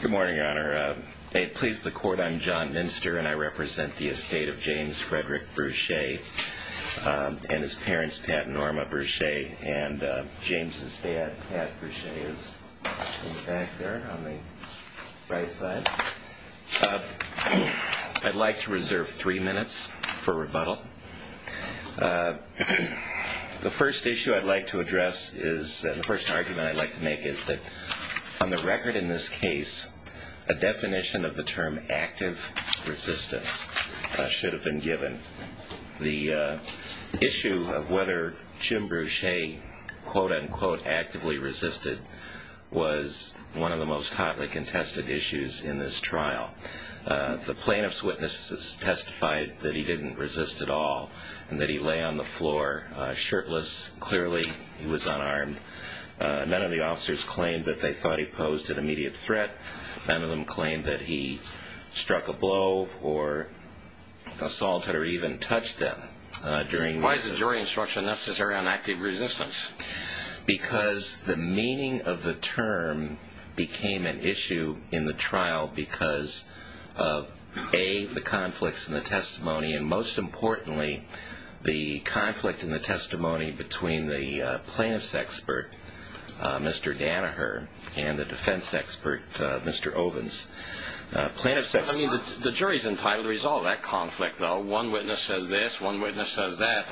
Good morning, Your Honor. May it please the Court, I'm John Minster, and I represent the estate of James Frederick Brutsche and his parents, Pat and Norma Brutsche, and James' dad, Pat Brutsche, is in the back there on the right side. I'd like to reserve three minutes for rebuttal. The first issue I'd like to address is, the first argument I'd like to make is that on the record in this case, a definition of the term active resistance should have been given. The issue of whether Jim Brutsche quote-unquote actively resisted was one of the most hotly contested issues in this trial. The plaintiff's witnesses testified that he didn't resist at all and that he lay on the floor shirtless, clearly he was unarmed. None of the officers claimed that they thought he posed an immediate threat. None of them claimed that he struck a blow or assaulted or even touched them. Why is the jury instruction necessary on active resistance? Because the meaning of the term became an issue in the trial because of, A, the conflicts in the testimony, and most importantly, the conflict in the testimony between the plaintiff's expert, Mr. Danaher, and the defense expert, Mr. Ovens. The jury's entitled to resolve that conflict though. One witness says this, one witness says that.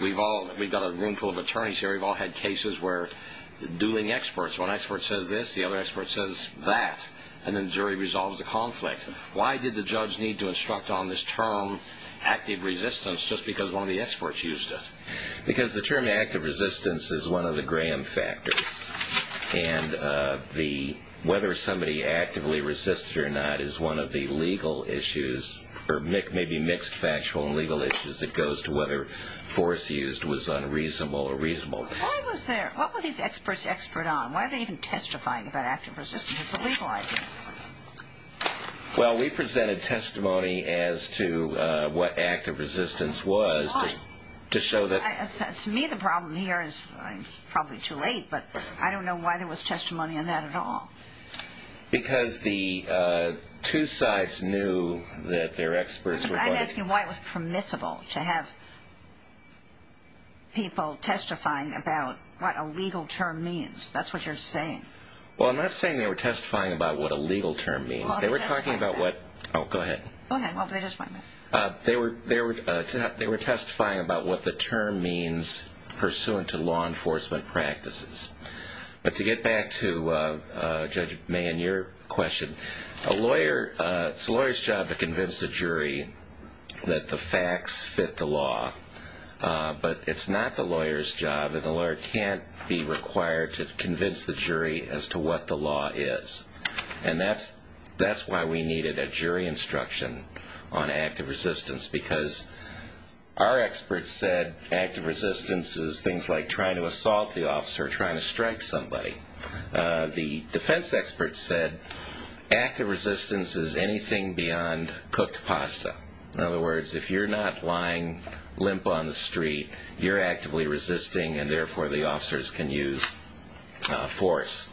We've got a room full of attorneys here, we've all had cases where dueling experts, one expert says this, the other expert says that, and then the jury resolves the conflict. Why did the judge need to instruct on this term active resistance just because one of the experts used it? Because the term active resistance is one of the Graham factors, and whether somebody actively resisted or not is one of the legal issues, or maybe mixed factual and legal issues that goes to whether force used was unreasonable or reasonable. Why was there, what were these experts expert on? Why are they even testifying about active resistance? It's a legal idea. Well, we presented testimony as to what active resistance was. Why? To show that... To me, the problem here is, I'm probably too late, but I don't know why there was testimony on that at all. Because the two sides knew that their experts were... I'm asking why it was permissible to have people testifying about what a legal term means. That's what you're saying. Well, I'm not saying they were testifying about what a legal term means. They were talking about what... Oh, go ahead. Go ahead. They were testifying about what the term means pursuant to law enforcement practices. But to get back to Judge Mayen, your question, it's a lawyer's job to convince the jury that the facts fit the law. But it's not the lawyer's job, and the lawyer can't be required to convince the jury as to what the law is. And that's why we needed a jury instruction on active resistance. Because our experts said active resistance is things like trying to assault the officer, trying to strike somebody. The defense experts said active resistance is anything beyond cooked pasta. In other words, if you're not lying limp on the street, you're actively resisting, and therefore the officers can use force.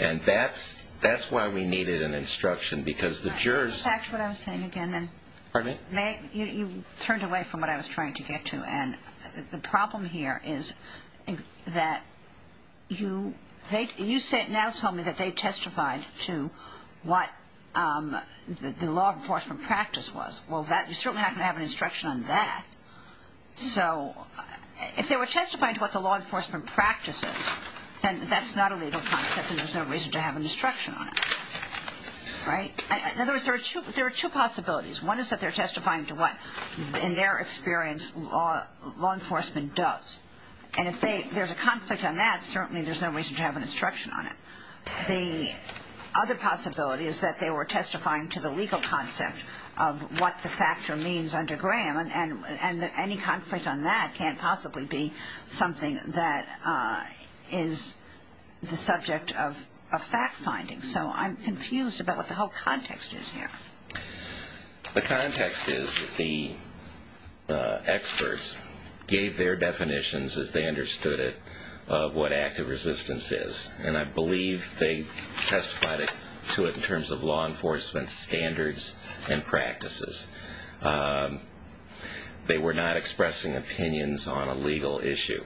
And that's why we needed an instruction, because the jurors... Back to what I was saying again. Pardon me? You turned away from what I was trying to get to. And the problem here is that you now tell me that they testified to what the law enforcement practice was. Well, you certainly have to have an instruction on that. So if they were testifying to what the law enforcement practice is, then that's not a legal concept, and there's no reason to have an instruction on it. Right? In other words, there are two possibilities. One is that they're testifying to what, in their experience, law enforcement does. And if there's a conflict on that, certainly there's no reason to have an instruction on it. The other possibility is that they were testifying to the legal concept of what the factor means under Graham, and any conflict on that can't possibly be something that is the subject of a fact-finding. So I'm confused about what the whole context is here. The context is the experts gave their definitions, as they understood it, of what active resistance is. And I believe they testified to it in terms of law enforcement standards and practices. They were not expressing opinions on a legal issue.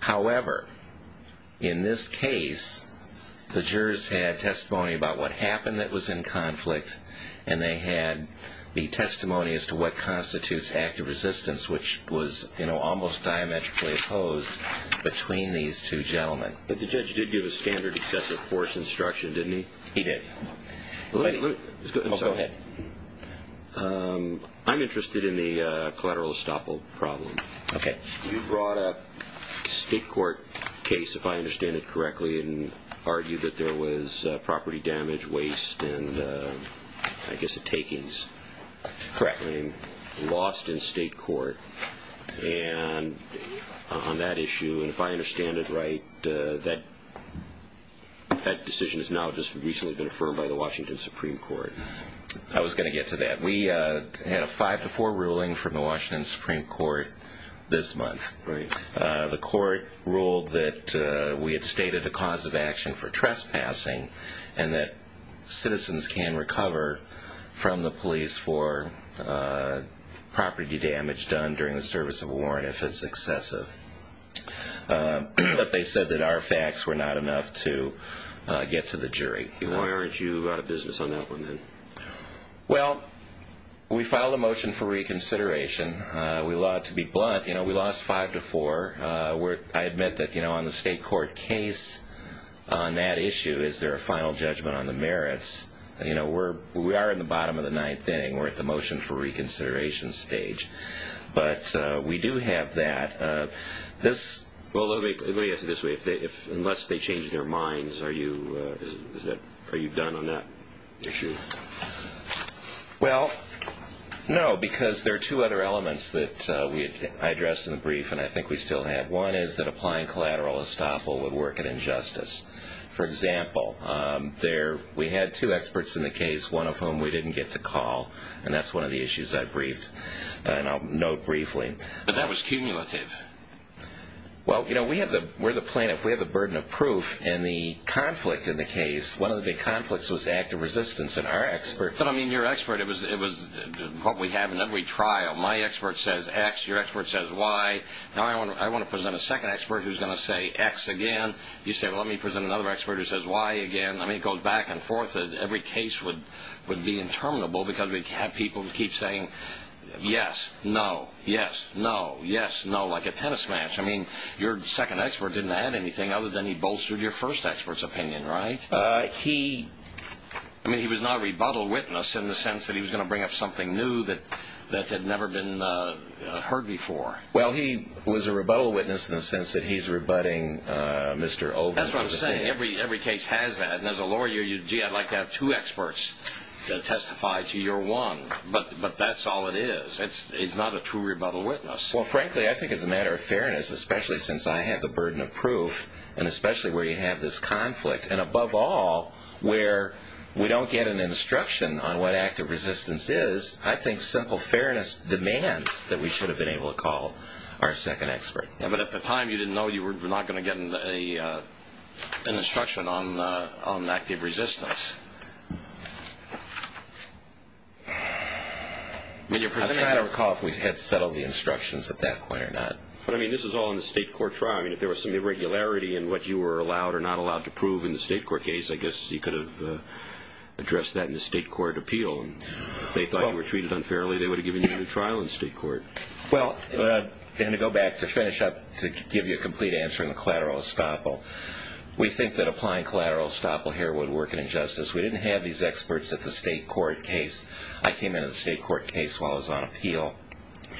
However, in this case, the jurors had testimony about what happened that was in conflict, and they had the testimony as to what constitutes active resistance, which was almost diametrically opposed between these two gentlemen. But the judge did give a standard excessive force instruction, didn't he? He did. Go ahead. I'm interested in the collateral estoppel problem. Okay. You brought up a state court case, if I understand it correctly, and argued that there was property damage, waste, and I guess a takings. Correct. Lost in state court. And on that issue, if I understand it right, that decision has now just recently been affirmed by the Washington Supreme Court. I was going to get to that. We had a 5-4 ruling from the Washington Supreme Court this month. Right. The court ruled that we had stated a cause of action for trespassing and that citizens can recover from the police for property damage done during the service of a warrant if it's excessive. But they said that our facts were not enough to get to the jury. Why aren't you out of business on that one then? Well, we filed a motion for reconsideration. We lied to be blunt. You know, we lost 5-4. I admit that, you know, on the state court case, on that issue, is there a final judgment on the merits? You know, we are in the bottom of the ninth inning. We're at the motion for reconsideration stage. But we do have that. Well, let me ask it this way. Unless they change their minds, are you done on that issue? Well, no, because there are two other elements that I addressed in the brief, and I think we still have. One is that applying collateral estoppel would work in injustice. For example, we had two experts in the case, one of whom we didn't get to call, and that's one of the issues I briefed, and I'll note briefly. But that was cumulative. Well, you know, we're the plaintiff. We have the burden of proof, and the conflict in the case, one of the big conflicts was active resistance, and our expert. But, I mean, your expert, it was what we have in every trial. My expert says X, your expert says Y. Now I want to present a second expert who's going to say X again. You say, well, let me present another expert who says Y again. I mean, it goes back and forth. Every case would be interminable because we have people who keep saying yes, no, yes, no, yes, no, like a tennis match. I mean, your second expert didn't add anything other than he bolstered your first expert's opinion, right? He was not a rebuttal witness in the sense that he was going to bring up something new that had never been heard before. Well, he was a rebuttal witness in the sense that he's rebutting Mr. Overton. That's what I'm saying. Every case has that. And as a lawyer, gee, I'd like to have two experts testify to your one. But that's all it is. It's not a true rebuttal witness. Well, frankly, I think as a matter of fairness, especially since I have the burden of proof, and especially where you have this conflict, and above all where we don't get an instruction on what active resistance is, I think simple fairness demands that we should have been able to call our second expert. Yeah, but at the time you didn't know you were not going to get an instruction on active resistance. I don't know if you recall if we had settled the instructions at that point or not. But, I mean, this is all in the state court trial. I mean, if there was some irregularity in what you were allowed or not allowed to prove in the state court case, I guess you could have addressed that in the state court appeal. And if they thought you were treated unfairly, they would have given you a new trial in state court. Well, and to go back to finish up, to give you a complete answer on the collateral estoppel, we think that applying collateral estoppel here would work in injustice. We didn't have these experts at the state court case. I came into the state court case while I was on appeal.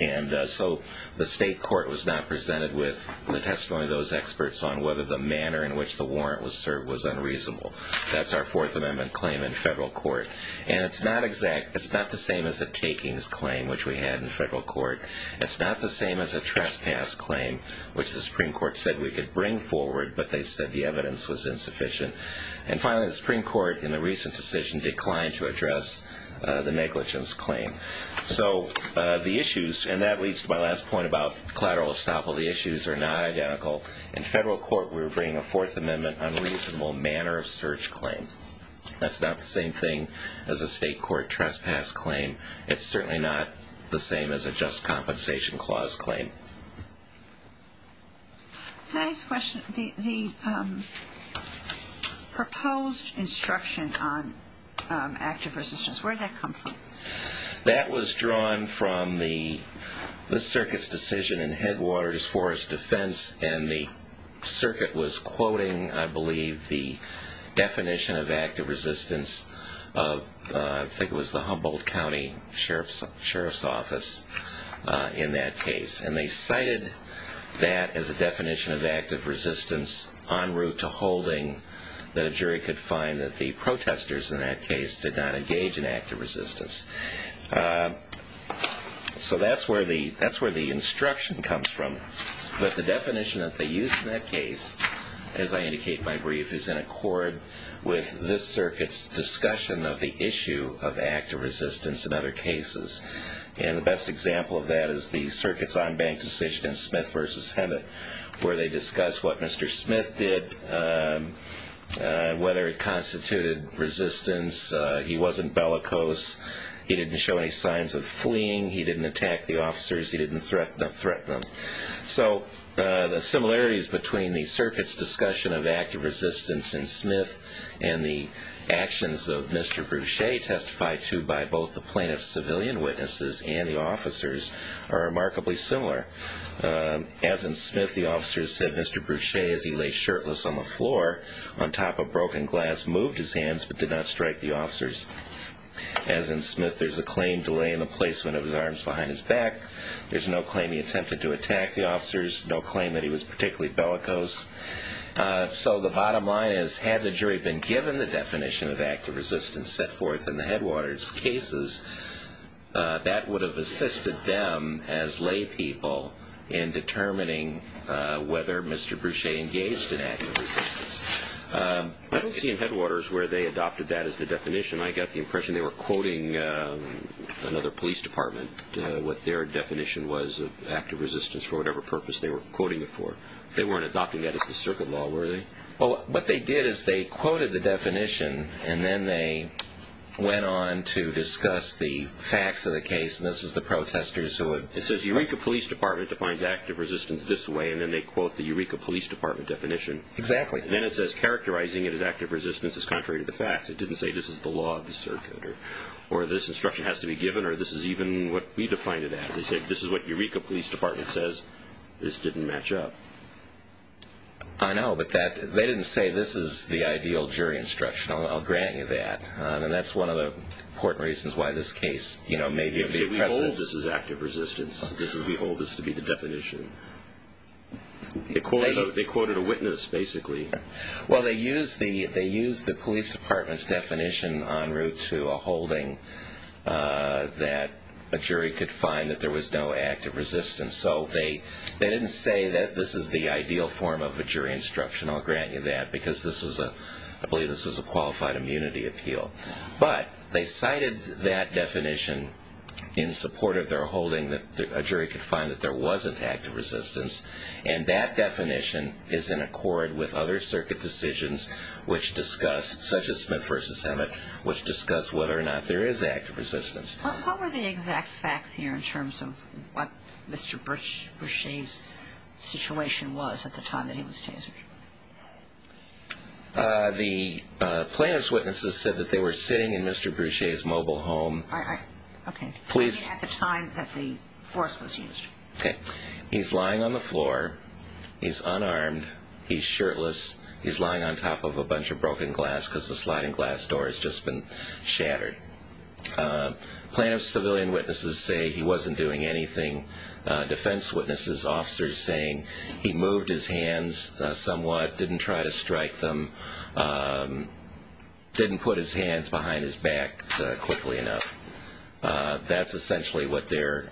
And so the state court was not presented with the testimony of those experts on whether the manner in which the warrant was served was unreasonable. That's our Fourth Amendment claim in federal court. And it's not the same as a takings claim, which we had in federal court. It's not the same as a trespass claim, which the Supreme Court said we could bring forward, but they said the evidence was insufficient. And finally, the Supreme Court, in the recent decision, declined to address the negligence claim. So the issues, and that leads to my last point about collateral estoppel, the issues are not identical. In federal court, we were bringing a Fourth Amendment unreasonable manner of search claim. That's not the same thing as a state court trespass claim. It's certainly not the same as a just compensation clause claim. Can I ask a question? The proposed instruction on active resistance, where did that come from? That was drawn from the circuit's decision in Headwaters Forest Defense, and the circuit was quoting, I believe, the definition of active resistance. I think it was the Humboldt County Sheriff's Office in that case. And they cited that as a definition of active resistance en route to holding, that a jury could find that the protesters in that case did not engage in active resistance. So that's where the instruction comes from. But the definition that they used in that case, as I indicate in my brief, is in accord with this circuit's discussion of the issue of active resistance in other cases. And the best example of that is the circuit's on-bank decision in Smith v. Hemet, where they discussed what Mr. Smith did, whether it constituted resistance. He wasn't bellicose. He didn't show any signs of fleeing. He didn't attack the officers. He didn't threaten them. So the similarities between the circuit's discussion of active resistance in Smith and the actions of Mr. Bruchet, testified to by both the plaintiff's civilian witnesses and the officers, are remarkably similar. As in Smith, the officers said Mr. Bruchet, as he lay shirtless on the floor on top of broken glass, moved his hands but did not strike the officers. As in Smith, there's a claim delay in the placement of his arms behind his back. There's no claim he attempted to attack the officers, no claim that he was particularly bellicose. So the bottom line is, had the jury been given the definition of active resistance set forth in the Headwaters cases, that would have assisted them as lay people in determining whether Mr. Bruchet engaged in active resistance. I don't see in Headwaters where they adopted that as the definition. I got the impression they were quoting another police department, what their definition was of active resistance for whatever purpose they were quoting it for. They weren't adopting that as the circuit law, were they? What they did is they quoted the definition, and then they went on to discuss the facts of the case, and this is the protesters who had... It says Eureka Police Department defines active resistance this way, and then they quote the Eureka Police Department definition. Exactly. And then it says characterizing it as active resistance is contrary to the facts. It didn't say this is the law of the circuit, or this instruction has to be given, or this is even what we defined it as. They said this is what Eureka Police Department says. This didn't match up. I know, but they didn't say this is the ideal jury instruction. I'll grant you that. And that's one of the important reasons why this case may be in the presence. We hold this as active resistance. We hold this to be the definition. They quoted a witness, basically. Well, they used the police department's definition en route to a holding that a jury could find that there was no active resistance. So they didn't say that this is the ideal form of a jury instruction. I'll grant you that, because I believe this was a qualified immunity appeal. But they cited that definition in support of their holding, that a jury could find that there wasn't active resistance. And that definition is in accord with other circuit decisions, such as Smith v. Emmett, which discuss whether or not there is active resistance. What were the exact facts here in terms of what Mr. Bruchet's situation was at the time that he was chased? The plaintiff's witnesses said that they were sitting in Mr. Bruchet's mobile home. At the time that the force was used. He's lying on the floor. He's unarmed. He's shirtless. He's lying on top of a bunch of broken glass because the sliding glass door has just been shattered. Plaintiff's civilian witnesses say he wasn't doing anything. Defense witnesses, officers saying he moved his hands somewhat, didn't try to strike them, didn't put his hands behind his back quickly enough. That's essentially what they're,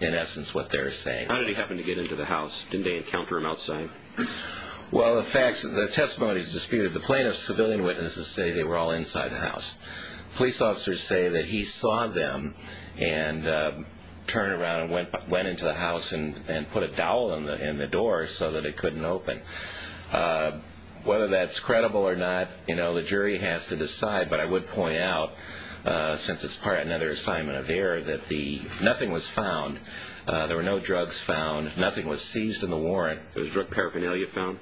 in essence, what they're saying. How did he happen to get into the house? Didn't they encounter him outside? Well, the testimony is disputed. The plaintiff's civilian witnesses say they were all inside the house. Police officers say that he saw them and turned around and went into the house and put a dowel in the door so that it couldn't open. Whether that's credible or not, you know, the jury has to decide. But I would point out, since it's part of another assignment of error, that nothing was found. There were no drugs found. Nothing was seized in the warrant. Was drug paraphernalia found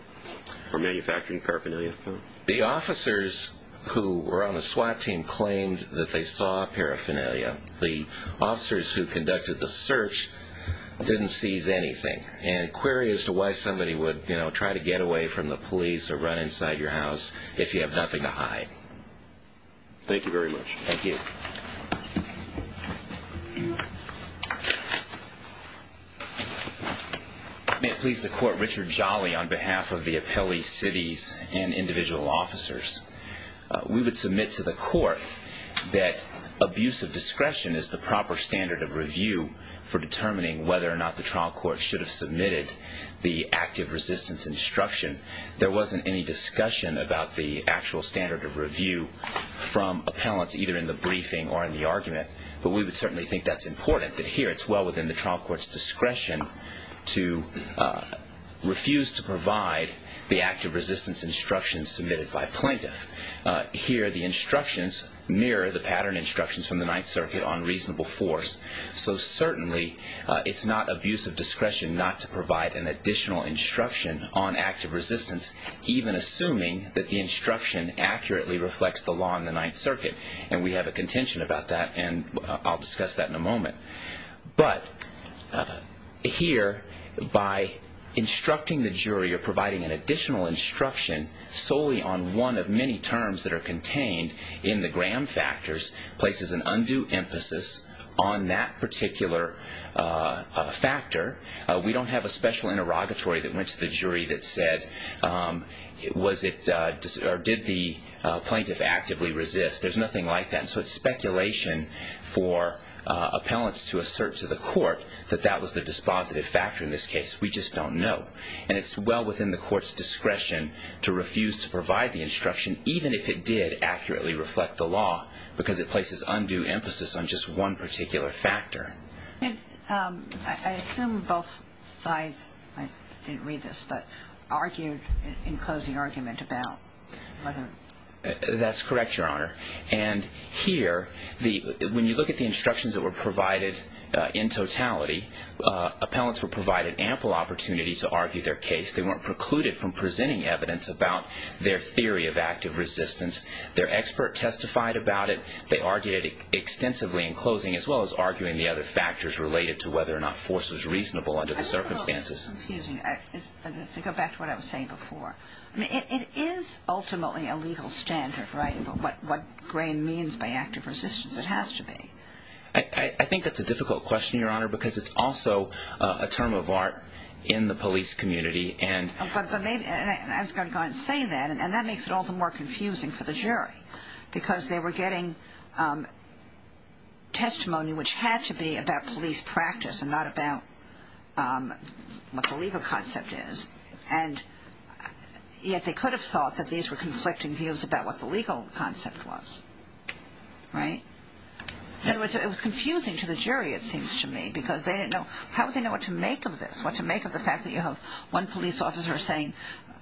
or manufacturing paraphernalia found? The officers who were on the SWAT team claimed that they saw paraphernalia. The officers who conducted the search didn't seize anything. And query as to why somebody would, you know, try to get away from the police or run inside your house if you have nothing to hide. Thank you very much. Thank you. May it please the Court, Richard Jolly, on behalf of the appellee, cities, and individual officers. We would submit to the Court that abusive discretion is the proper standard of review for determining whether or not the trial court should have submitted the active resistance instruction. There wasn't any discussion about the actual standard of review from appellants, either in the briefing or in the argument. But we would certainly think that's important, that here it's well within the trial court's discretion to refuse to provide the active resistance instruction submitted by plaintiff. Here the instructions mirror the pattern instructions from the Ninth Circuit on reasonable force. So certainly it's not abusive discretion not to provide an additional instruction on active resistance, even assuming that the instruction accurately reflects the law in the Ninth Circuit. And we have a contention about that, and I'll discuss that in a moment. But here, by instructing the jury or providing an additional instruction solely on one of many terms that are contained in the Graham factors places an undue emphasis on that particular factor. We don't have a special interrogatory that went to the jury that said, was it or did the plaintiff actively resist? There's nothing like that. So it's speculation for appellants to assert to the court that that was the dispositive factor in this case. We just don't know. And it's well within the court's discretion to refuse to provide the instruction, even if it did accurately reflect the law, because it places undue emphasis on just one particular factor. And I assume both sides, I didn't read this, but argued in closing argument about whether... That's correct, Your Honor. And here, when you look at the instructions that were provided in totality, appellants were provided ample opportunity to argue their case. They weren't precluded from presenting evidence about their theory of active resistance. Their expert testified about it. They argued it extensively in closing, as well as arguing the other factors related to whether or not force was reasonable under the circumstances. Excuse me. Let's go back to what I was saying before. It is ultimately a legal standard, right? What grain means by active resistance? It has to be. I think that's a difficult question, Your Honor, because it's also a term of art in the police community. I was going to go ahead and say that, and that makes it all the more confusing for the jury, because they were getting testimony which had to be about police practice and not about what the legal concept is. Yet they could have thought that these were conflicting views about what the legal concept was. Right? It was confusing to the jury, it seems to me, because they didn't know... How would they know what to make of this? What to make of the fact that you have one police officer saying,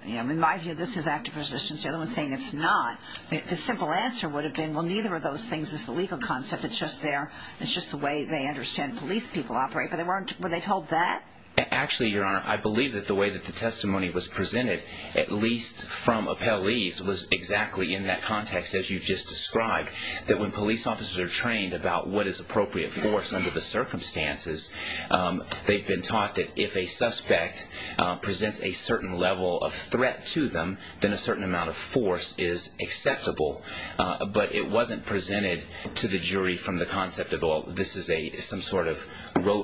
in my view, this is active resistance, the other one saying it's not. The simple answer would have been, well, neither of those things is the legal concept. It's just the way they understand police people operate. But they weren't... Were they told that? Actually, Your Honor, I believe that the way that the testimony was presented, at least from appellees, was exactly in that context, as you just described, that when police officers are trained about what is appropriate force under the circumstances, they've been taught that if a suspect presents a certain level of threat to them, then a certain amount of force is acceptable. But it wasn't presented to the jury from the concept of, well, this is some sort of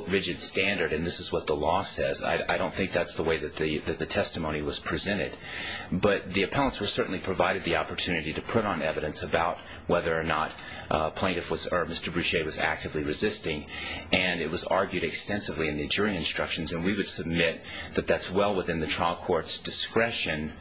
rigid standard and this is what the law says. I don't think that's the way that the testimony was presented. But the appellants were certainly provided the opportunity to put on evidence about whether or not Mr. Bruchet was actively resisting, and it was argued extensively in the jury instructions, and we would submit that that's well within the trial court's discretion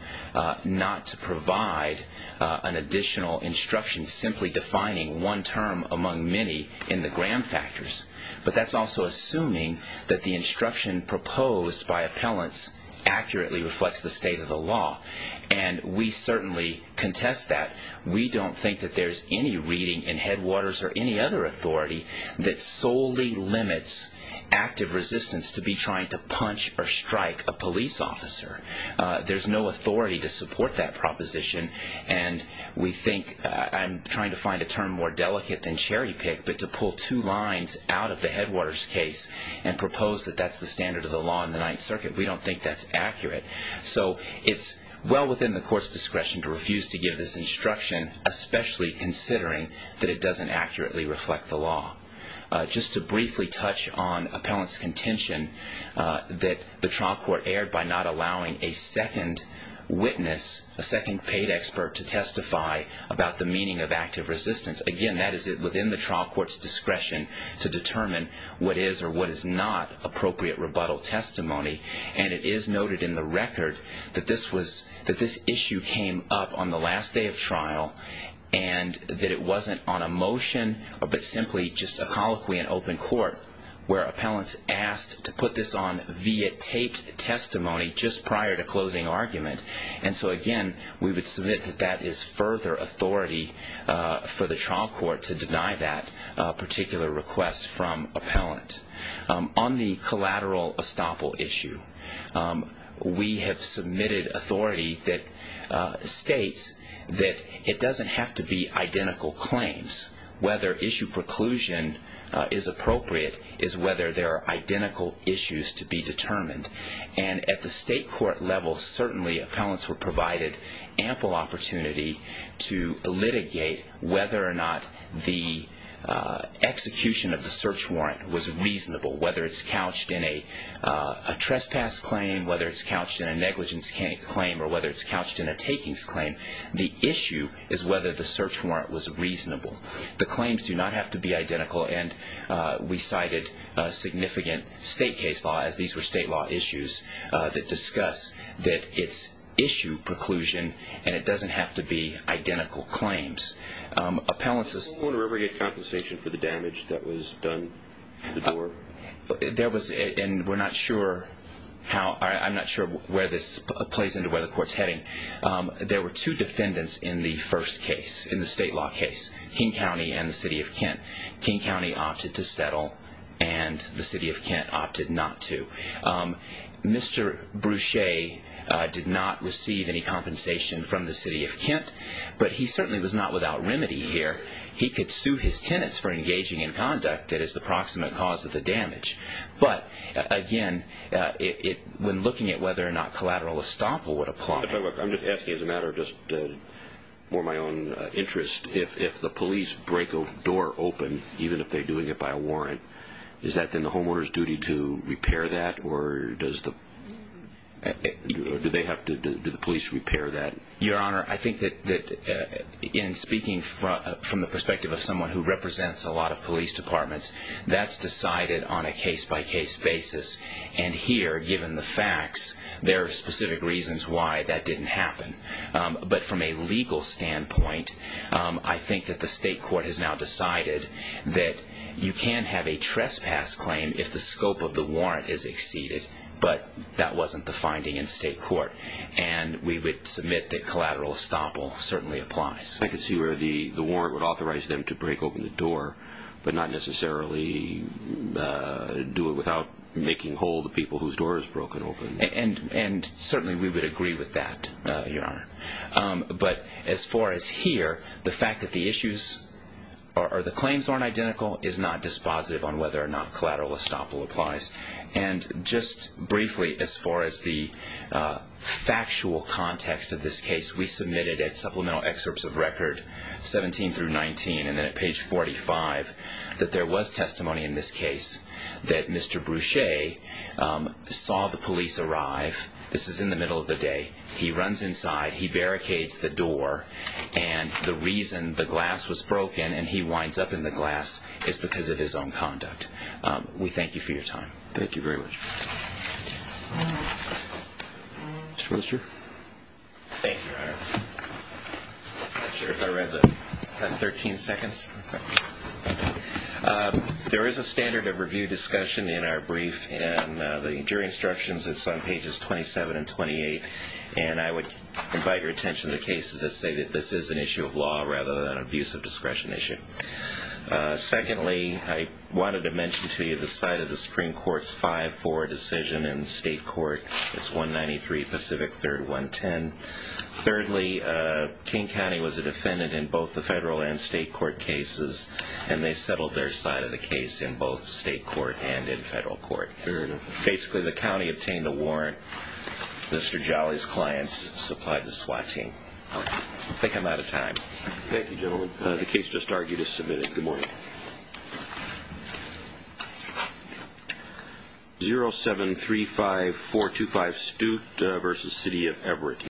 not to provide an additional instruction simply defining one term among many in the gram factors. But that's also assuming that the instruction proposed by appellants accurately reflects the state of the law. And we certainly contest that. We don't think that there's any reading in Headwaters or any other authority that solely limits active resistance to be trying to punch or strike a police officer. There's no authority to support that proposition, and we think I'm trying to find a term more delicate than cherry pick, but to pull two lines out of the Headwaters case and propose that that's the standard of the law in the Ninth Circuit, we don't think that's accurate. So it's well within the court's discretion to refuse to give this instruction, especially considering that it doesn't accurately reflect the law. Just to briefly touch on appellant's contention that the trial court aired by not allowing a second witness, a second paid expert, to testify about the meaning of active resistance. Again, that is within the trial court's discretion to determine what is or what is not appropriate rebuttal testimony. And it is noted in the record that this issue came up on the last day of trial and that it wasn't on a motion but simply just a colloquy in open court where appellants asked to put this on via taped testimony just prior to closing argument. And so, again, we would submit that that is further authority for the trial court to deny that particular request from appellant. On the collateral estoppel issue, we have submitted authority that states that it doesn't have to be identical claims. Whether issue preclusion is appropriate is whether there are identical issues to be determined. And at the state court level, certainly appellants were provided ample opportunity to litigate whether or not the execution of the search warrant was reasonable, whether it's couched in a trespass claim, whether it's couched in a negligence claim, or whether it's couched in a takings claim. The issue is whether the search warrant was reasonable. The claims do not have to be identical, and we cited a significant state case law, as these were state law issues, that discuss that it's issue preclusion and it doesn't have to be identical claims. Appellants' Did the owner ever get compensation for the damage that was done to the door? There was, and we're not sure how, I'm not sure where this plays into where the court's heading. There were two defendants in the first case, in the state law case, King County and the city of Kent. King County opted to settle, and the city of Kent opted not to. Mr. Bruchet did not receive any compensation from the city of Kent, but he certainly was not without remedy here. He could sue his tenants for engaging in conduct that is the proximate cause of the damage. But, again, when looking at whether or not collateral estoppel would apply. I'm just asking as a matter of just more my own interest, if the police break a door open, even if they're doing it by a warrant, is that then the homeowner's duty to repair that, or does the police repair that? Your Honor, I think that in speaking from the perspective of someone who represents a lot of police departments, that's decided on a case-by-case basis. And here, given the facts, there are specific reasons why that didn't happen. But from a legal standpoint, I think that the state court has now decided that you can have a trespass claim if the scope of the warrant is exceeded, but that wasn't the finding in state court. And we would submit that collateral estoppel certainly applies. I can see where the warrant would authorize them to break open the door, but not necessarily do it without making whole the people whose door is broken open. And certainly we would agree with that, Your Honor. But as far as here, the fact that the issues or the claims aren't identical is not dispositive on whether or not collateral estoppel applies. And just briefly, as far as the factual context of this case, we submitted at Supplemental Excerpts of Record 17 through 19, and then at page 45, that there was testimony in this case that Mr. Bruchet saw the police arrive. This is in the middle of the day. He runs inside, he barricades the door, and the reason the glass was broken and he winds up in the glass is because of his own conduct. We thank you for your time. Thank you very much. Mr. Worthershire. Thank you, Your Honor. I'm not sure if I read the 13 seconds. There is a standard of review discussion in our brief, and the jury instructions, it's on pages 27 and 28. And I would invite your attention to cases that say that this is an issue of law rather than an abuse of discretion issue. Secondly, I wanted to mention to you the side of the Supreme Court's 5-4 decision in state court. It's 193 Pacific 3rd 110. Thirdly, King County was a defendant in both the federal and state court cases, and they settled their side of the case in both state court and in federal court. Basically, the county obtained a warrant. Mr. Jolly's clients supplied the SWAT team. I think I'm out of time. Thank you, gentlemen. The case just argued is submitted. Good morning. 0735425 Stute v. City of Everett.